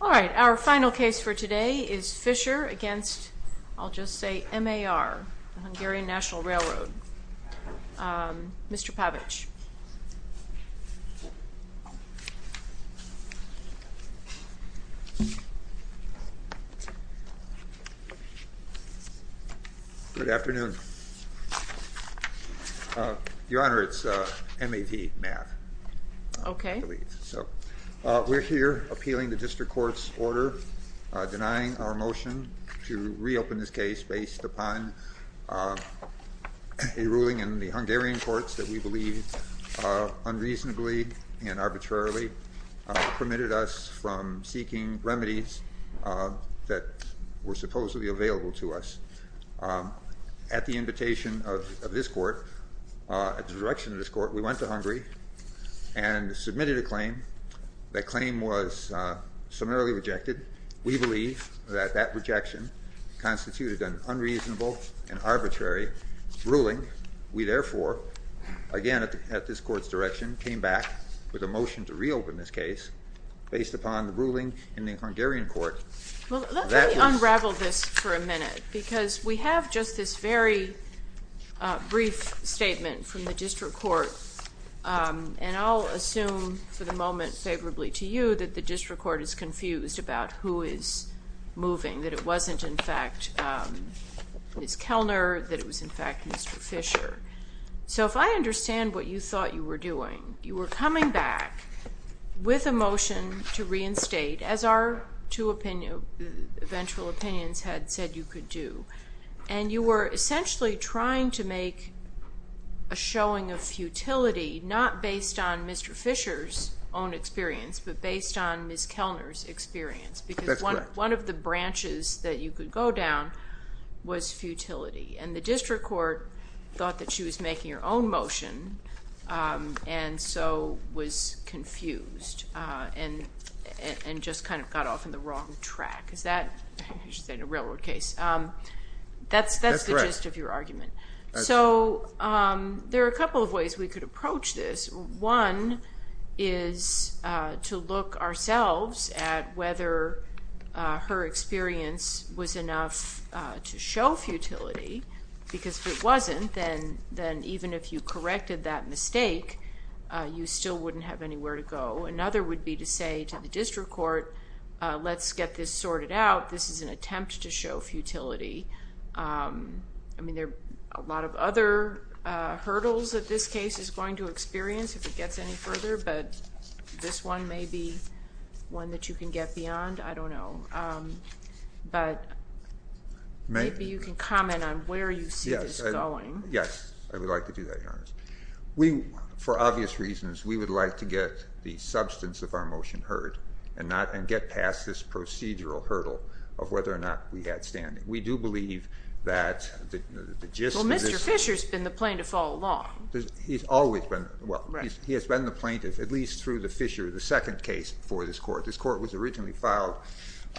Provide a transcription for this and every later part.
All right, our final case for today is Fischer against, I'll just say MAR, the Hungarian National Railroad. Mr. Pavic. Good afternoon. Your Honor, it's MAV, math. Okay. So we're here appealing the motion to reopen this case based upon a ruling in the Hungarian courts that we believe unreasonably and arbitrarily permitted us from seeking remedies that were supposedly available to us. At the invitation of this court, at the direction of this court, we went to Hungary and submitted a claim. That claim was summarily rejected. We believe that that rejection constituted an unreasonable and arbitrary ruling. We therefore, again at this court's direction, came back with a motion to reopen this case based upon the ruling in the Hungarian court. Let me unravel this for a minute because we have just this very brief statement from the district court and I'll assume for the moment favorably to you that the district court is confused about who is moving, that it wasn't in fact Ms. Kellner, that it was in fact Mr. Fischer. So if I understand what you thought you were doing, you were coming back with a motion to reinstate, as our two eventual opinions had said you could do, and you were essentially trying to make a showing of futility not based on Mr. Fischer's own experience but based on Ms. Kellner's experience because one of the branches that you could go down was futility and the district court thought that she was making her own motion and so was confused and just kind of got off in the wrong track. Is that a railroad case? That's the gist of your One is to look ourselves at whether her experience was enough to show futility because if it wasn't then even if you corrected that mistake you still wouldn't have anywhere to go. Another would be to say to the district court let's get this sorted out, this is an attempt to show futility. I mean there are a lot of other hurdles that this case is going to experience if it gets any further but this one may be one that you can get beyond, I don't know, but maybe you can comment on where you see this going. Yes, I would like to do that, Your Honor. We, for obvious reasons, we would like to get the substance of our motion heard and get past this procedural hurdle of whether or not we had We do believe that the gist of this Well, Mr. Fisher's been the plaintiff all along. He's always been, well he has been the plaintiff at least through the Fisher, the second case for this court. This court was originally filed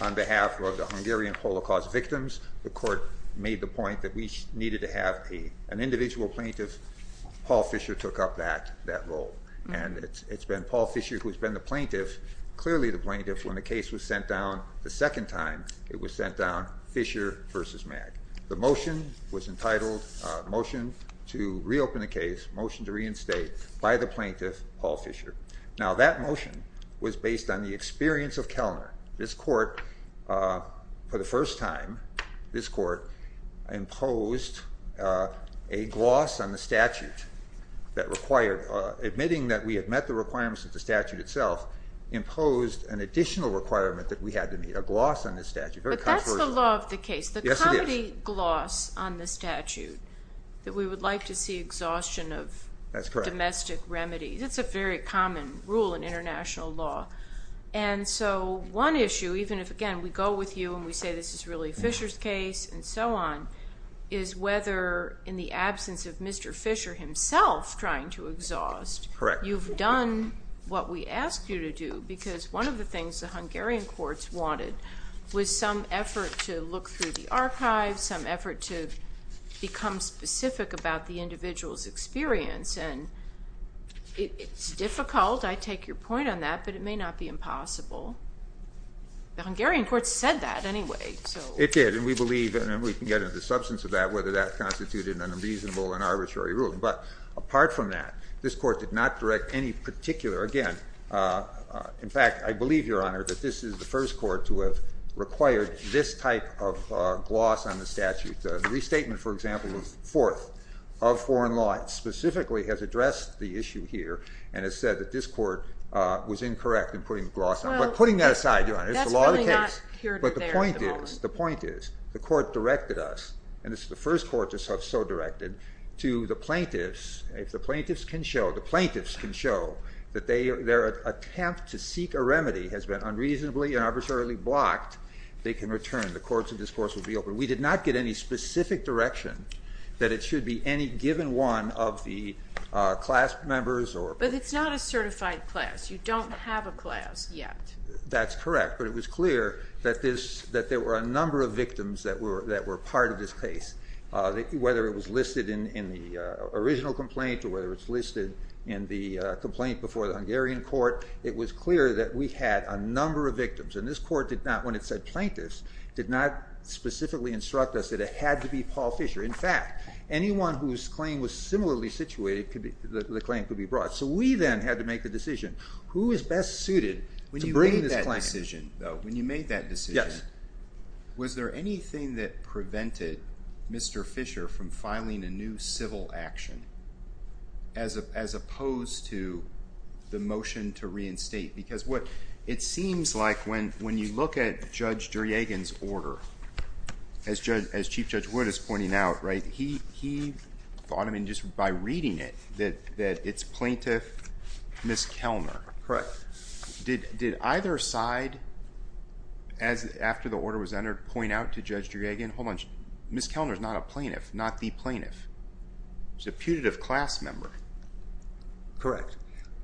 on behalf of the Hungarian Holocaust victims. The court made the point that we needed to have an individual plaintiff. Paul Fisher took up that role and it's been Paul Fisher who's been the plaintiff, clearly the plaintiff, when the motion was sent down the second time it was sent down Fisher versus Mag. The motion was entitled motion to reopen the case, motion to reinstate by the plaintiff, Paul Fisher. Now that motion was based on the experience of Kellner. This court, for the first time, this court imposed a gloss on the statute that required, admitting that we have met the requirements of the statute itself, imposed an additional requirement that we had to meet, a gloss on the statute. But that's the law of the case, the comedy gloss on the statute that we would like to see exhaustion of domestic remedies. That's a very common rule in international law and so one issue, even if again we go with you and we say this is really Fisher's case and so on, is whether in the absence of Mr. Fisher himself trying to exhaust, you've done what we asked you to do because one of the things the Hungarian courts wanted was some effort to look through the archives, some effort to become specific about the individual's experience and it's difficult, I take your point on that, but it may not be impossible. The Hungarian courts said that anyway. It did and we believe, and we can get into substance of that, whether that constituted an unreasonable and apart from that, this court did not direct any particular, again, in fact I believe, Your Honor, that this is the first court to have required this type of gloss on the statute. The restatement, for example, of fourth of foreign law specifically has addressed the issue here and has said that this court was incorrect in putting the gloss on it. But putting that aside, Your Honor, it's the law of the case. But the point is, the point is, the court directed us, and this is the first court to have so directed, to the plaintiffs. If the plaintiffs can show, the plaintiffs can show that their attempt to seek a remedy has been unreasonably and arbitrarily blocked, they can return. The courts of discourse will be open. We did not get any specific direction that it should be any given one of the class members or... But it's not a certified class. You don't have a class yet. That's correct, but it was clear that there were a number of whether it was listed in the original complaint or whether it's listed in the complaint before the Hungarian court, it was clear that we had a number of victims. And this court did not, when it said plaintiffs, did not specifically instruct us that it had to be Paul Fisher. In fact, anyone whose claim was similarly situated, the claim could be brought. So we then had to make the decision, who is best suited to bring this claim? When you made that decision, was there anything that prevented Mr. Fisher from filing a new civil action as opposed to the motion to reinstate? Because what it seems like when you look at Judge Duryagan's order, as Chief Judge Wood is pointing out, he thought, I mean just by reading it, that it's plaintiff Ms. Kelner. Did either side, after the order was entered, point out to Judge Duryagan, hold on, Ms. Kelner is not a plaintiff, not the plaintiff. She's a putative class member. Correct.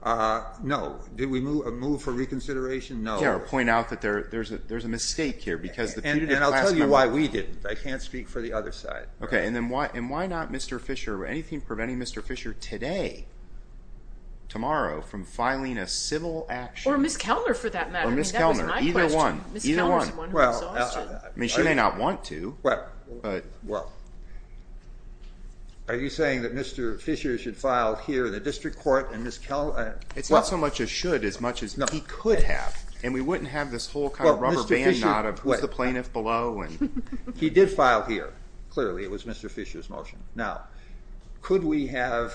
No. Did we move for reconsideration? No. Or point out that there's a mistake here because... And I'll tell you why we didn't. I can't speak for the other side. Okay, and then why not Mr. Fisher, anything from filing a civil action? Or Ms. Kelner for that matter. Or Ms. Kelner, either one. I mean she may not want to. Are you saying that Mr. Fisher should file here in the district court and Ms. Kelner... It's not so much a should as much as he could have, and we wouldn't have this whole kind of rubber band knot of who's the plaintiff below. He did file here, clearly, it was Mr. Fisher's motion. Now, could we have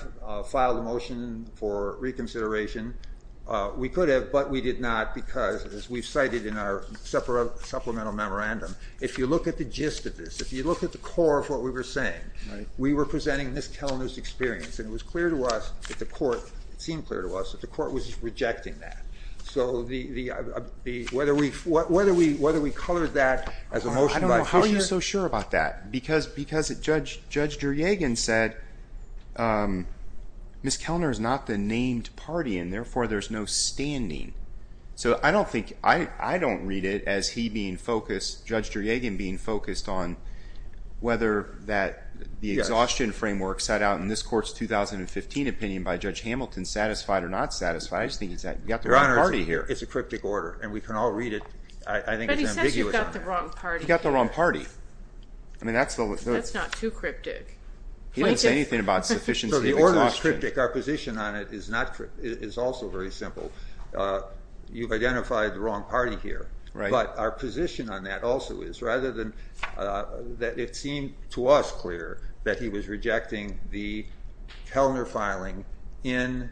filed a motion for reconsideration? We could have, but we did not because, as we've cited in our supplemental memorandum, if you look at the gist of this, if you look at the core of what we were saying, we were presenting this Telenews experience, and it was clear to us that the court, it seemed clear to us, that the court was rejecting that. So whether we colored that as a motion by Fisher... I don't know, how are you so sure about that? Because Judge Juryagan said Ms. Kelner is not the named party, and therefore there's no standing. So I don't think, I don't read it as he being focused, Judge Juryagan being focused on whether that the exhaustion framework set out in this court's 2015 opinion by Judge Hamilton, satisfied or not satisfied. I just think he's got the wrong party here. Your Honor, it's a cryptic order, and we can all That's not too cryptic. He didn't say anything about sufficiency of exhaustion. The order is cryptic, our position on it is also very simple. You've identified the wrong party here, but our position on that also is, rather than that it seemed to us clear that he was rejecting the Kelner filing in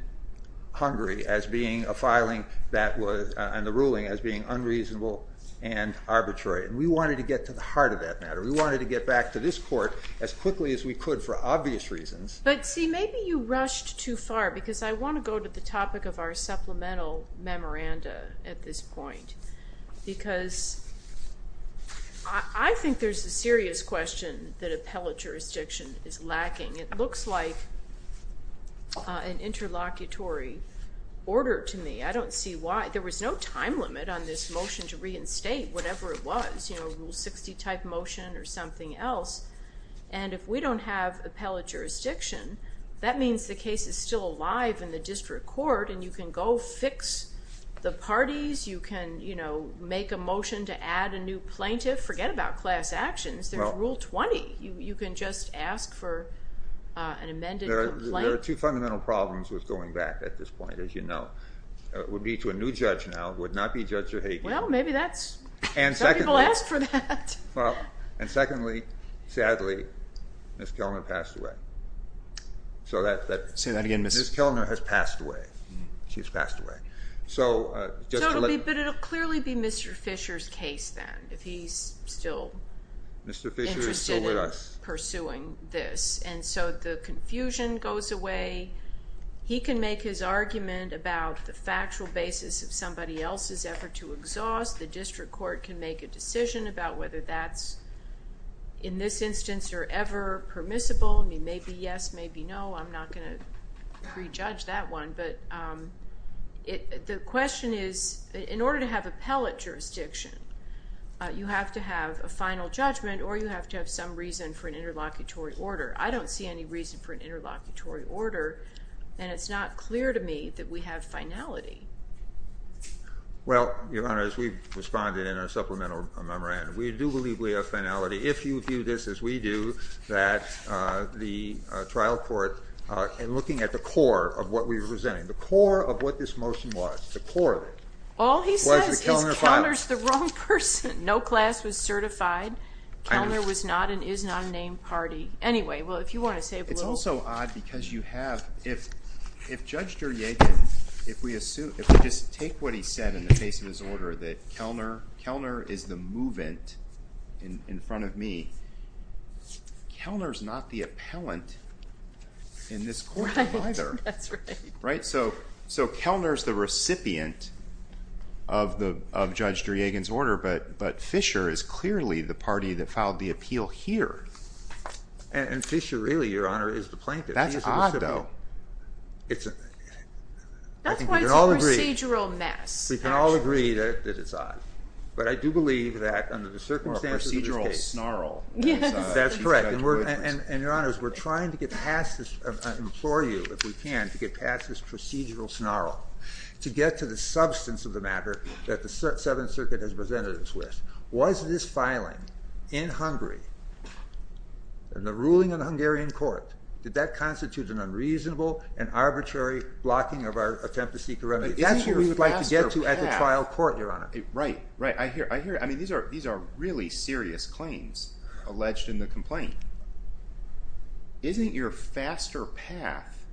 Hungary as being a filing that was, and the ruling as being unreasonable and arbitrary, and we wanted to get to the heart of that matter. We wanted to get back to this court as quickly as we could for obvious reasons. But see, maybe you rushed too far, because I want to go to the topic of our supplemental memoranda at this point, because I think there's a serious question that appellate jurisdiction is lacking. It looks like an interlocutory order to me. I don't see why. There was no time limit on this motion to reinstate whatever it was, you or something else, and if we don't have appellate jurisdiction, that means the case is still alive in the district court, and you can go fix the parties, you can, you know, make a motion to add a new plaintiff, forget about class actions, there's rule 20. You can just ask for an amended complaint. There are two fundamental problems with going back at this point, as you know. It would lead to a new judge now, it would not be Judge Zerhagin. Well, maybe that's, some people asked for that. And secondly, sadly, Ms. Kellner passed away. Say that again, Ms. Kellner. Ms. Kellner has passed away. She's passed away. So, but it'll clearly be Mr. Fisher's case then, if he's still interested in pursuing this, and so the confusion goes away. He can make his argument about the factual basis of somebody else's effort to exhaust. The district court can make a decision about whether that's, in this instance, or ever permissible. I mean, maybe yes, maybe no. I'm not going to prejudge that one, but it, the question is, in order to have appellate jurisdiction, you have to have a final judgment, or you have to have some reason for an interlocutory order, and it's not clear to me that we have finality. Well, Your Honor, as we've responded in our supplemental memorandum, we do believe we have finality. If you view this as we do, that the trial court, in looking at the core of what we were presenting, the core of what this motion was, the core of it, was the Kellner file. All he says is Kellner's the wrong person. No class was certified. Kellner was not and is not a named party. Anyway, well, if you want to It's also odd because you have, if Judge Duryagan, if we assume, if we just take what he said in the case of his order, that Kellner is the movant in front of me. Kellner's not the appellant in this court, either. Right? So, Kellner's the recipient of Judge Duryagan's order, but Fisher is clearly the party that filed the appeal here. And Fisher, really, Your Honor, is the plaintiff. That's odd, though. That's why it's a procedural mess. We can all agree that it's odd, but I do believe that under the circumstances of this case. More of a procedural snarl. Yes. That's correct. And, Your Honors, we're trying to get past this, I implore you, if we can, to get past this procedural snarl, to get to the substance of the matter that the Seventh Circuit has presented us with. Was this filing, in Hungary, in the ruling of the Hungarian court, did that constitute an unreasonable and arbitrary blocking of our attempt to seek a remedy? That's what we would like to get to at the trial court, Your Honor. Right. Right. I hear it. I mean, these are really serious claims alleged in the complaint. Isn't your faster path,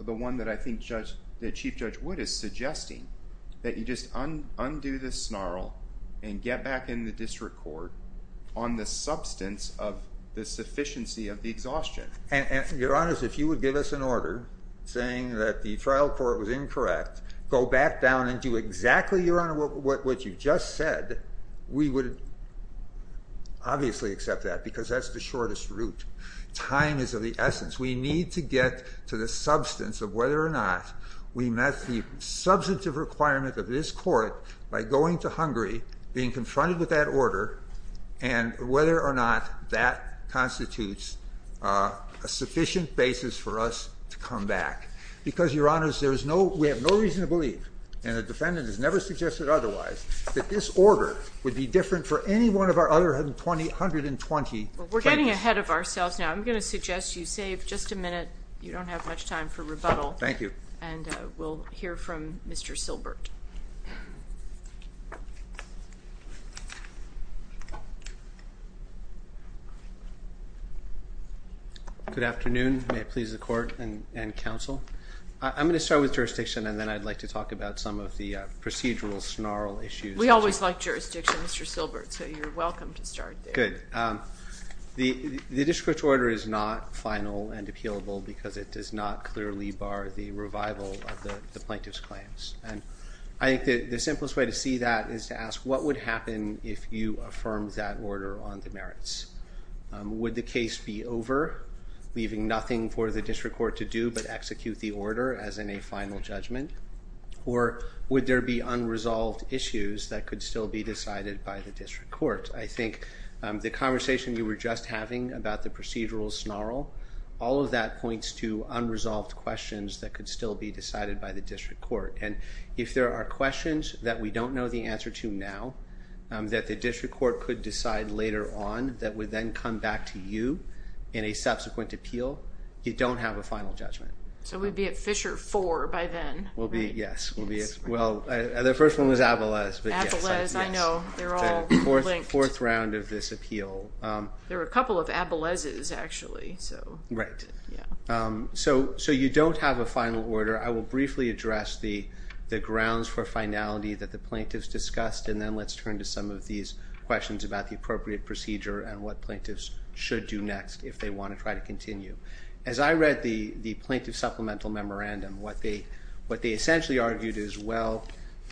the one that I think Chief Judge Wood is suggesting, that you just undo the snarl and get back in the district court on the substance of the sufficiency of the exhaustion? Your Honors, if you would give us an order saying that the trial court was incorrect, go back down and do exactly, Your Honor, what you just said, we would obviously accept that, because that's the shortest route. Time is of the essence. We need to get to the substance of whether or not we met the substantive requirement of this court by going to Hungary, being confronted with that order, and whether or not that constitutes a sufficient basis for us to come back. Because, Your Honors, we have no reason to believe, and the defendant has never suggested otherwise, that this order would be different for any one of our other 120 plaintiffs. Well, we're getting ahead of ourselves now. I'm going to suggest you save just a minute. You don't have much time for rebuttal. Thank you. And we'll hear from Mr. Silbert. Good afternoon. May it please the court and counsel. I'm going to start with jurisdiction, and then I'd like to talk about some of the procedural snarl issues. We always like jurisdiction, Mr. Silbert, so you're welcome to start there. Good. The district order is not final and appealable, because it does not clearly bar the revival of the plaintiff's claims. And I think the simplest way to see that is to ask, what would happen if you affirmed that order on the merits? Would the case be over, leaving nothing for the district court to do but execute the order as in a final judgment? Or would there be unresolved issues that could still be decided by the district court? I think the conversation you were just having about the procedural snarl, all of that points to unresolved questions that could still be decided by the district court. And if there are questions that we don't know the answer to now, that the district court could decide later on that would then come back to you in a subsequent appeal, you don't have a final judgment. So we'd be at Fisher 4 by then. We'll be, yes. Well, the first one was Abelez. Abelez, I know. They're all linked. Fourth round of this appeal. There were a couple of Abelezes, actually, so. Right. So you don't have a final order. I will briefly address the grounds for finality that the plaintiffs discussed, and then let's turn to some of these questions about the appropriate procedure and what plaintiffs should do next if they want to try to continue. As I read the plaintiff supplemental memorandum, what they essentially argued is, well,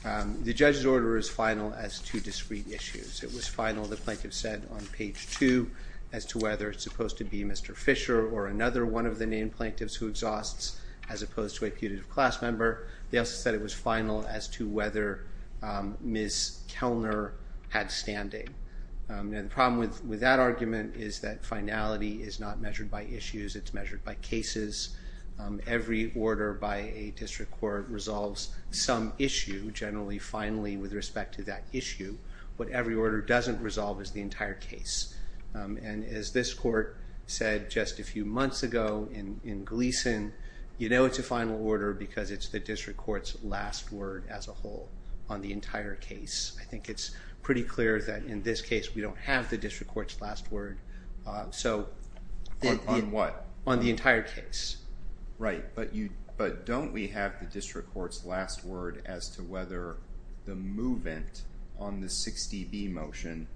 the judge's order is final as to discrete issues. It was final, the plaintiff said, on page 2 as to whether it's supposed to be Mr. Fisher or another one of the named plaintiffs who exhausts as opposed to a putative class member. They also said it was final as to whether Ms. Kellner had standing. And the problem with that argument is that finality is not measured by issues. It's measured by cases. Every order by a district court resolves some issue, generally, finally, with respect to that issue. What every order doesn't resolve is the entire case. And as this court said just a few months ago in Gleason, you know it's a final order because it's the district court's last word as a whole on the entire case. I think it's pretty clear that in this case we don't have the district court's last word. On what? On the entire case. Right. But don't we have the district court's last word as to whether the movement on the 60B motion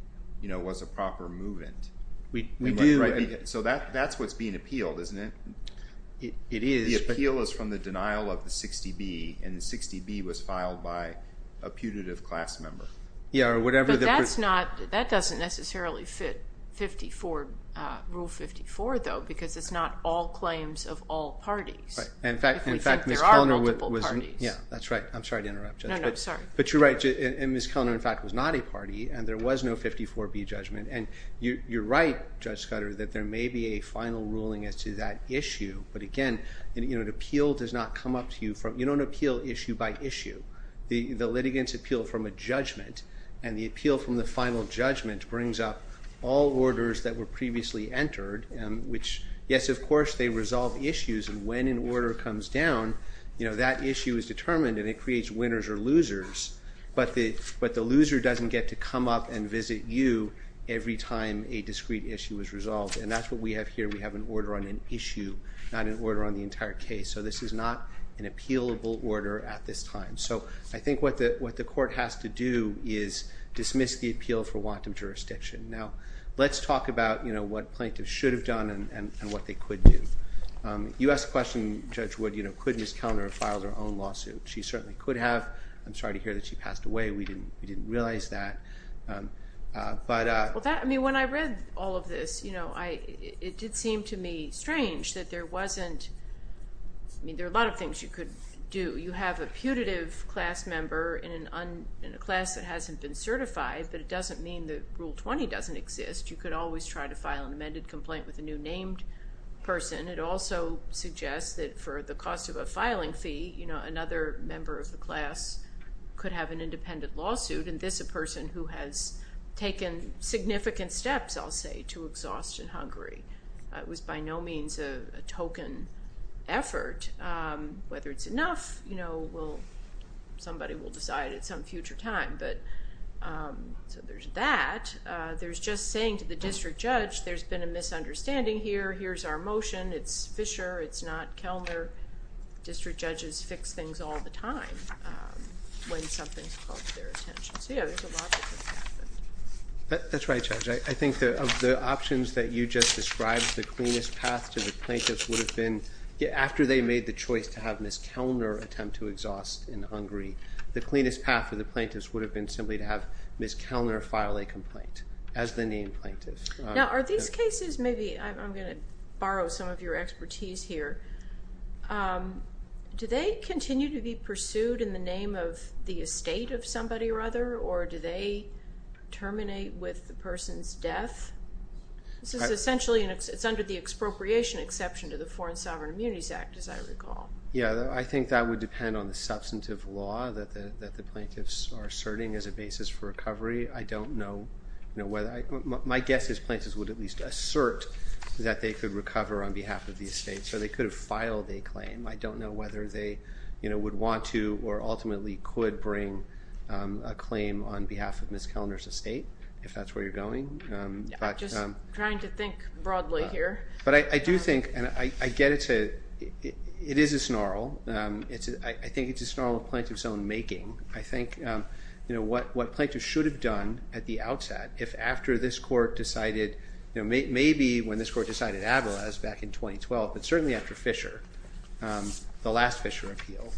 was a proper movement? We do. So that's what's being appealed, isn't it? It is. The appeal is from the denial of the 60B, and the 60B was filed by a putative class member. Yeah. But that doesn't necessarily fit Rule 54, though, because it's not all claims of all parties. Right. If we think there are multiple parties. Yeah, that's right. I'm sorry to interrupt, Judge. No, no, I'm sorry. But you're right. And Ms. Kellner, in fact, was not a party, and there was no 54B judgment. And you're right, Judge Scudder, that there may be a final ruling as to that issue. But, again, an appeal does not come up to you. You don't appeal issue by issue. The litigants appeal from a judgment, and the appeal from the final judgment brings up all orders that were previously entered, which, yes, of course, they resolve issues. And when an order comes down, that issue is determined, and it creates winners or losers. But the loser doesn't get to come up and visit you every time a discrete issue is resolved. And that's what we have here. We have an order on an issue, not an order on the entire case. So this is not an appealable order at this time. So I think what the court has to do is dismiss the appeal for wanton jurisdiction. Now, let's talk about what plaintiffs should have done and what they could do. You asked a question, Judge Wood, could Ms. Kellner have filed her own lawsuit? She certainly could have. I'm sorry to hear that she passed away. We didn't realize that. Well, I mean, when I read all of this, you know, it did seem to me strange that there wasn't, I mean, there are a lot of things you could do. You have a putative class member in a class that hasn't been certified, but it doesn't mean that Rule 20 doesn't exist. You could always try to file an amended complaint with a new named person. It also suggests that for the cost of a filing fee, you know, another member of the class could have an independent lawsuit, and this a person who has taken significant steps, I'll say, to exhaust in Hungary. It was by no means a token effort. Whether it's enough, you know, somebody will decide at some future time. So there's that. There's just saying to the district judge, there's been a misunderstanding here. Here's our motion. It's Fisher. It's not Kellner. District judges fix things all the time when something's caught their attention. So, yeah, there's a lot that could happen. That's right, Judge. I think of the options that you just described, the cleanest path to the plaintiffs would have been, after they made the choice to have Ms. Kellner attempt to exhaust in Hungary, the cleanest path for the plaintiffs would have been simply to have Ms. Kellner file a complaint as the named plaintiff. Now, are these cases maybe, I'm going to borrow some of your expertise here, do they continue to be pursued in the name of the estate of somebody or other, or do they terminate with the person's death? This is essentially, it's under the expropriation exception to the Foreign Sovereign Immunities Act, as I recall. Yeah, I think that would depend on the substantive law that the plaintiffs are asserting as a basis for recovery. I don't know. My guess is plaintiffs would at least assert that they could recover on behalf of the estate, so they could have filed a claim. I don't know whether they would want to or ultimately could bring a claim on behalf of Ms. Kellner's estate, if that's where you're going. I'm just trying to think broadly here. But I do think, and I get it, it is a snarl. I think it's a snarl of plaintiffs' own making. I think what plaintiffs should have done at the outset, if after this court decided, maybe when this court decided Avala's back in 2012, but certainly after Fisher, the last Fisher appeal,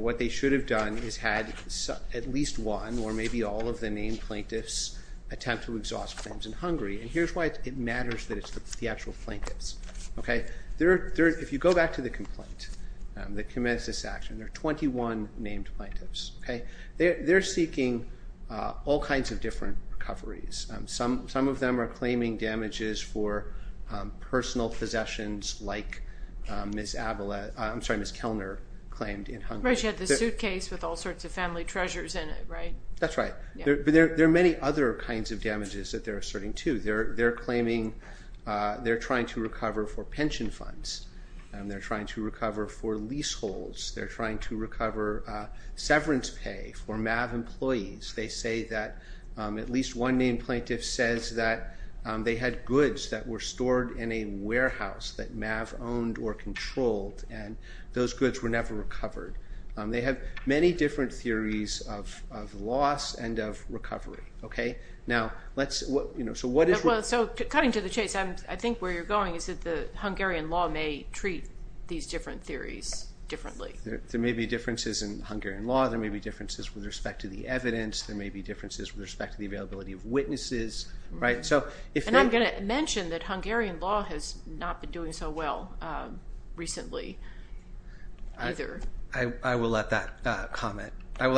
what they should have done is had at least one or maybe all of the named plaintiffs attempt to exhaust claims in Hungary, and here's why it matters that it's the actual plaintiffs. If you go back to the complaint that commits this action, there are 21 named plaintiffs. They're seeking all kinds of different recoveries. Some of them are claiming damages for personal possessions like Ms. Kellner claimed in Hungary. Right, she had the suitcase with all sorts of family treasures in it, right? That's right. But there are many other kinds of damages that they're asserting too. They're claiming they're trying to recover for pension funds. They're trying to recover for leaseholds. They're trying to recover severance pay for MAV employees. They say that at least one named plaintiff says that they had goods that were stored in a warehouse that MAV owned or controlled, and those goods were never recovered. They have many different theories of loss and of recovery. So cutting to the chase, I think where you're going is that the Hungarian law may treat these different theories differently. There may be differences in Hungarian law. There may be differences with respect to the evidence. There may be differences with respect to the availability of witnesses, right? And I'm going to mention that Hungarian law has not been doing so well recently either. I will let that statement go without comment. I don't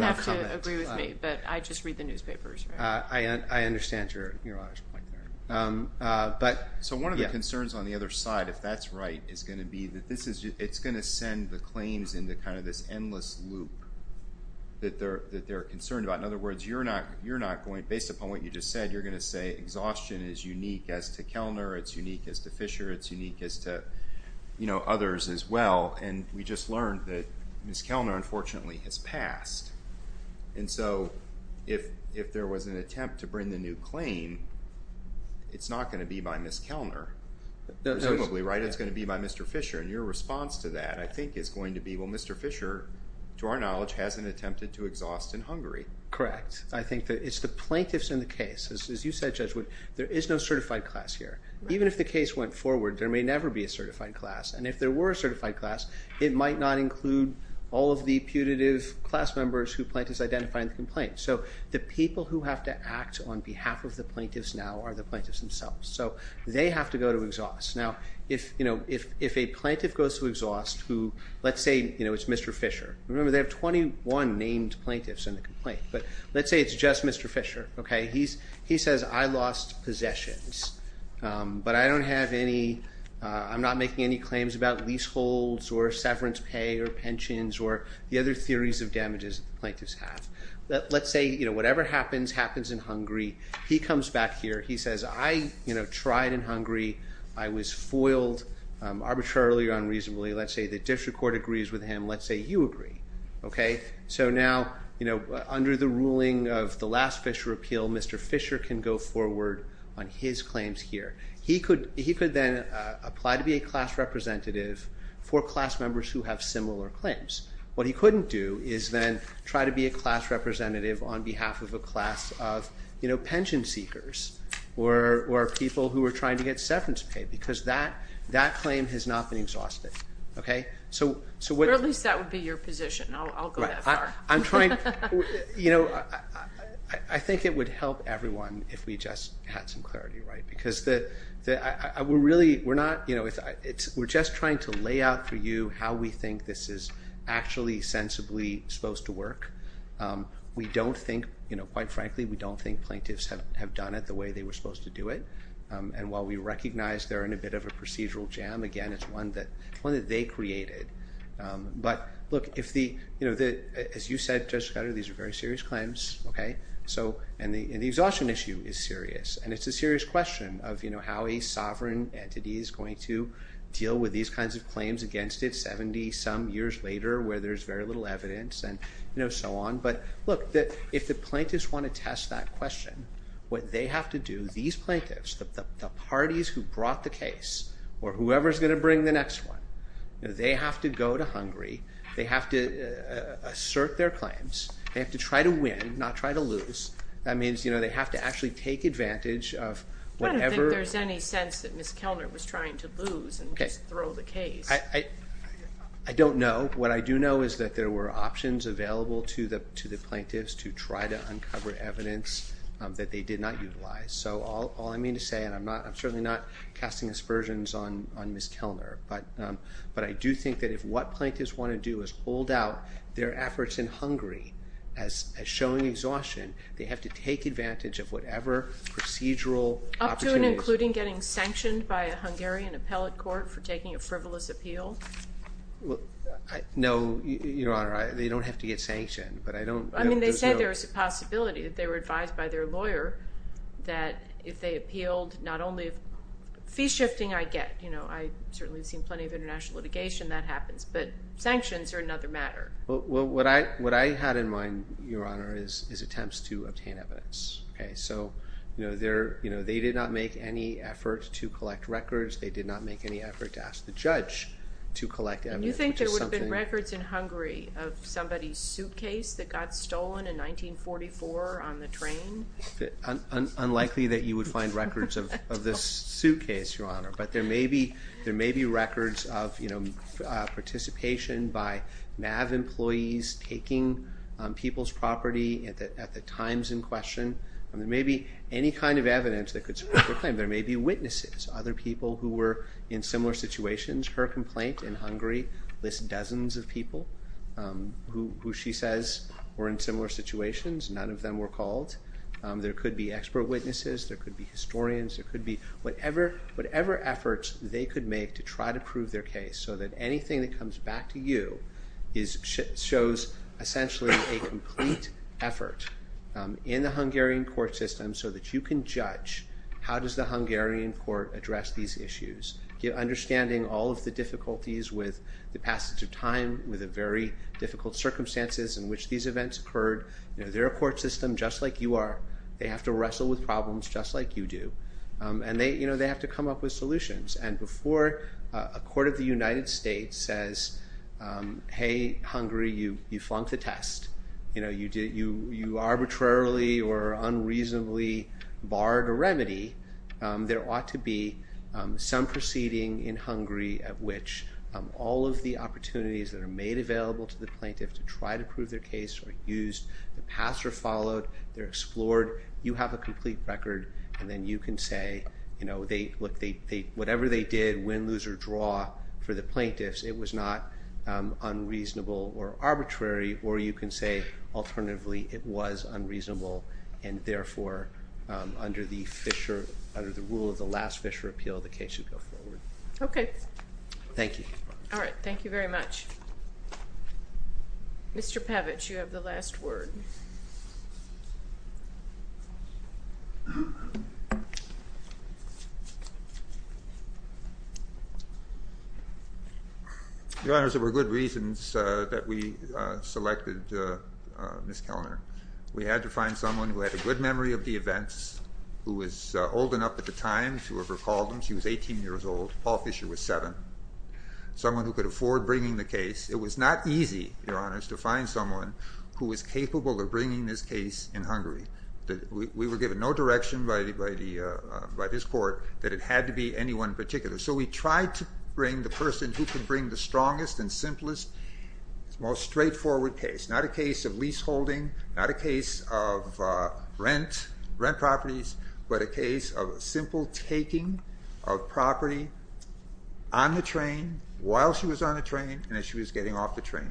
know if you agree with me, but I just read the newspapers, right? I understand your point there. So one of the concerns on the other side, if that's right, is going to be that it's going to send the claims into kind of this endless loop that they're concerned about. In other words, based upon what you just said, you're going to say exhaustion is unique as to Kellner. It's unique as to Fisher. It's unique as to others as well. And we just learned that Ms. Kellner, unfortunately, has passed. And so if there was an attempt to bring the new claim, it's not going to be by Ms. Kellner, presumably, right? It's going to be by Mr. Fisher. And your response to that, I think, is going to be, well, Mr. Fisher, to our knowledge, hasn't attempted to exhaust in Hungary. Correct. I think that it's the plaintiffs in the case. As you said, Judge Wood, there is no certified class here. Even if the case went forward, there may never be a certified class. And if there were a certified class, it might not include all of the putative class members who plaintiffs identify in the complaint. So the people who have to act on behalf of the plaintiffs now are the plaintiffs themselves. So they have to go to exhaust. Now, if a plaintiff goes to exhaust who, let's say, it's Mr. Fisher. Remember, they have 21 named plaintiffs in the complaint. But let's say it's just Mr. Fisher. He says, I lost possessions, but I'm not making any claims about leaseholds or severance pay or pensions or the other theories of damages that the plaintiffs have. Let's say whatever happens happens in Hungary. He comes back here. He says, I tried in Hungary. I was foiled arbitrarily or unreasonably. Let's say the district court agrees with him. Let's say you agree. So now, under the ruling of the last Fisher appeal, Mr. Fisher can go forward on his claims here. He could then apply to be a class representative for class members who have similar claims. What he couldn't do is then try to be a class representative on behalf of a class of pension seekers or people who are trying to get severance pay because that claim has not been exhausted. At least that would be your position. I'll go that far. I think it would help everyone if we just had some clarity. Because we're just trying to lay out for you how we think this is actually sensibly supposed to work. Quite frankly, we don't think plaintiffs have done it the way they were supposed to do it. And while we recognize they're in a bit of a procedural jam, again, it's one that they created. But look, as you said, Judge Scudder, these are very serious claims. And the exhaustion issue is serious. And it's a serious question of how a sovereign entity is going to deal with these kinds of claims against it 70 some years later where there's very little evidence and so on. But look, if the plaintiffs want to test that question, what they have to do, these plaintiffs, the parties who brought the case or whoever's going to bring the next one, they have to go to Hungary. They have to assert their claims. They have to try to win, not try to lose. That means they have to actually take advantage of whatever. I don't think there's any sense that Ms. Kellner was trying to lose and just throw the case. I don't know. What I do know is that there were options available to the plaintiffs to try to uncover evidence that they did not utilize. So all I mean to say, and I'm certainly not casting aspersions on Ms. Kellner, but I do think that if what plaintiffs want to do is hold out their efforts in Hungary as showing exhaustion, they have to take advantage of whatever procedural opportunities. Even including getting sanctioned by a Hungarian appellate court for taking a frivolous appeal? No, Your Honor. They don't have to get sanctioned, but I don't know. I mean, they said there was a possibility that they were advised by their lawyer that if they appealed, not only fee shifting I get. I certainly have seen plenty of international litigation that happens, but sanctions are another matter. Well, what I had in mind, Your Honor, is attempts to obtain evidence. Okay, so they did not make any effort to collect records. They did not make any effort to ask the judge to collect evidence. And you think there would have been records in Hungary of somebody's suitcase that got stolen in 1944 on the train? Unlikely that you would find records of this suitcase, Your Honor. But there may be records of participation by MAV employees taking people's property at the times in question. There may be any kind of evidence that could support their claim. There may be witnesses, other people who were in similar situations. Her complaint in Hungary lists dozens of people who she says were in similar situations. None of them were called. There could be expert witnesses. There could be historians. There could be whatever efforts they could make to try to prove their case so that anything that comes back to you shows essentially a complete effort in the Hungarian court system so that you can judge how does the Hungarian court address these issues. Understanding all of the difficulties with the passage of time, with the very difficult circumstances in which these events occurred. They're a court system just like you are. They have to wrestle with problems just like you do. And they have to come up with solutions. And before a court of the United States says, hey, Hungary, you flunked the test. You arbitrarily or unreasonably barred a remedy, there ought to be some proceeding in Hungary at which all of the opportunities that are made available to the plaintiff to try to prove their case are used. The paths are followed. They're explored. You have a complete record. And then you can say, look, whatever they did, win, lose, or draw for the plaintiffs, it was not unreasonable or arbitrary. Or you can say, alternatively, it was unreasonable. And therefore, under the rule of the last Fisher appeal, the case would go forward. Okay. Thank you. All right. Thank you very much. Mr. Pavich, you have the last word. Your Honors, there were good reasons that we selected Ms. Kellner. We had to find someone who had a good memory of the events, who was old enough at the time to have recalled them. She was 18 years old. Paul Fisher was 7. Someone who could afford bringing the case. It was not easy, Your Honors, to find someone who was capable of bringing this case in Hungary. We were given no direction by this court that it had to be anyone in particular. So we tried to bring the person who could bring the strongest and simplest, most straightforward case. Not a case of leaseholding. Not a case of rent, rent properties. But a case of simple taking of property on the train, while she was on the train, and as she was getting off the train.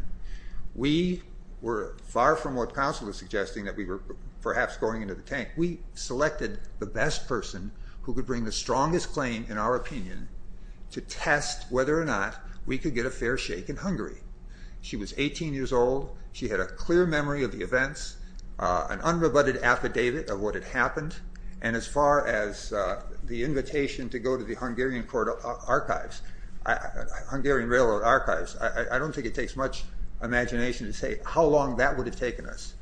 We were far from what counsel was suggesting, that we were perhaps going into the tank. We selected the best person who could bring the strongest claim, in our opinion, to test whether or not we could get a fair shake in Hungary. She was 18 years old. She had a clear memory of the events. An unrebutted affidavit of what had happened. And as far as the invitation to go to the Hungarian Railroad Archives, I don't think it takes much imagination to say how long that would have taken us.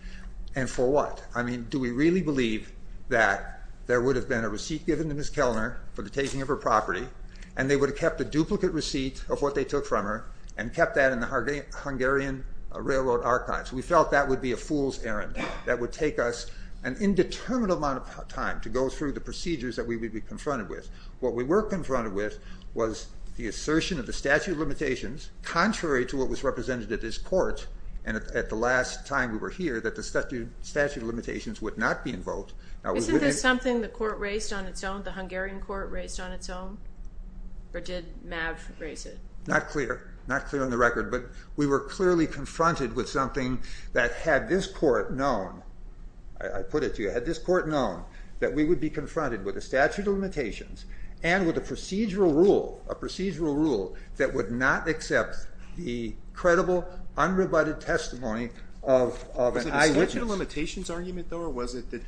And for what? I mean, do we really believe that there would have been a receipt given to Ms. Kellner for the taking of her property, and they would have kept a duplicate receipt of what they took from her, and kept that in the Hungarian Railroad Archives? We felt that would be a fool's errand. That would take us an indeterminate amount of time to go through the procedures that we would be confronted with. What we were confronted with was the assertion of the statute of limitations, contrary to what was represented at this court, and at the last time we were here, that the statute of limitations would not be invoked. Isn't this something the court raised on its own, the Hungarian court raised on its own? Or did Mav raise it? Not clear. Not clear on the record. But we were clearly confronted with something that had this court known, I put it to you, had this court known that we would be confronted with a statute of limitations and with a procedural rule, a procedural rule that would not accept the credible unrebutted testimony of an eyewitness. The statute of limitations argument, though, or was it that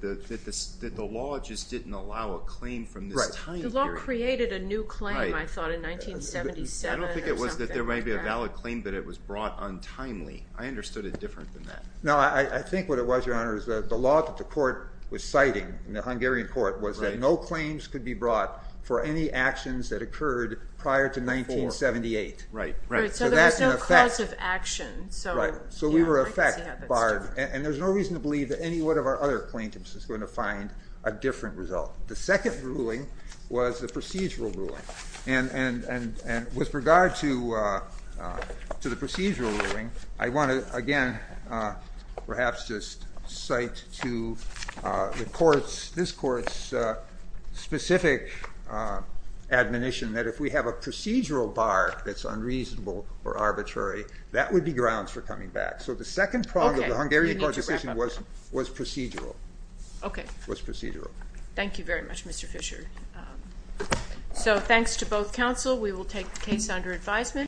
the law just didn't allow a claim from this time period? The law created a new claim, I thought, in 1977 or something. I don't think it was that there might be a valid claim, but it was brought untimely. I understood it different than that. No, I think what it was, Your Honor, is that the law that the court was citing in the Hungarian court was that no claims could be brought for any actions that occurred prior to 1978. Right. So there was no cause of action. Right. So we were a fact barred. And there's no reason to believe that any one of our other plaintiffs is going to find a different result. The second ruling was the procedural ruling. And with regard to the procedural ruling, I want to, again, perhaps just cite to the court's, this court's specific admonition that if we have a procedural bar that's unreasonable or arbitrary, that would be grounds for coming back. So the second prong of the Hungarian court decision was procedural. Okay. It was procedural. Thank you very much, Mr. Fisher. So thanks to both counsel. We will take the case under advisement.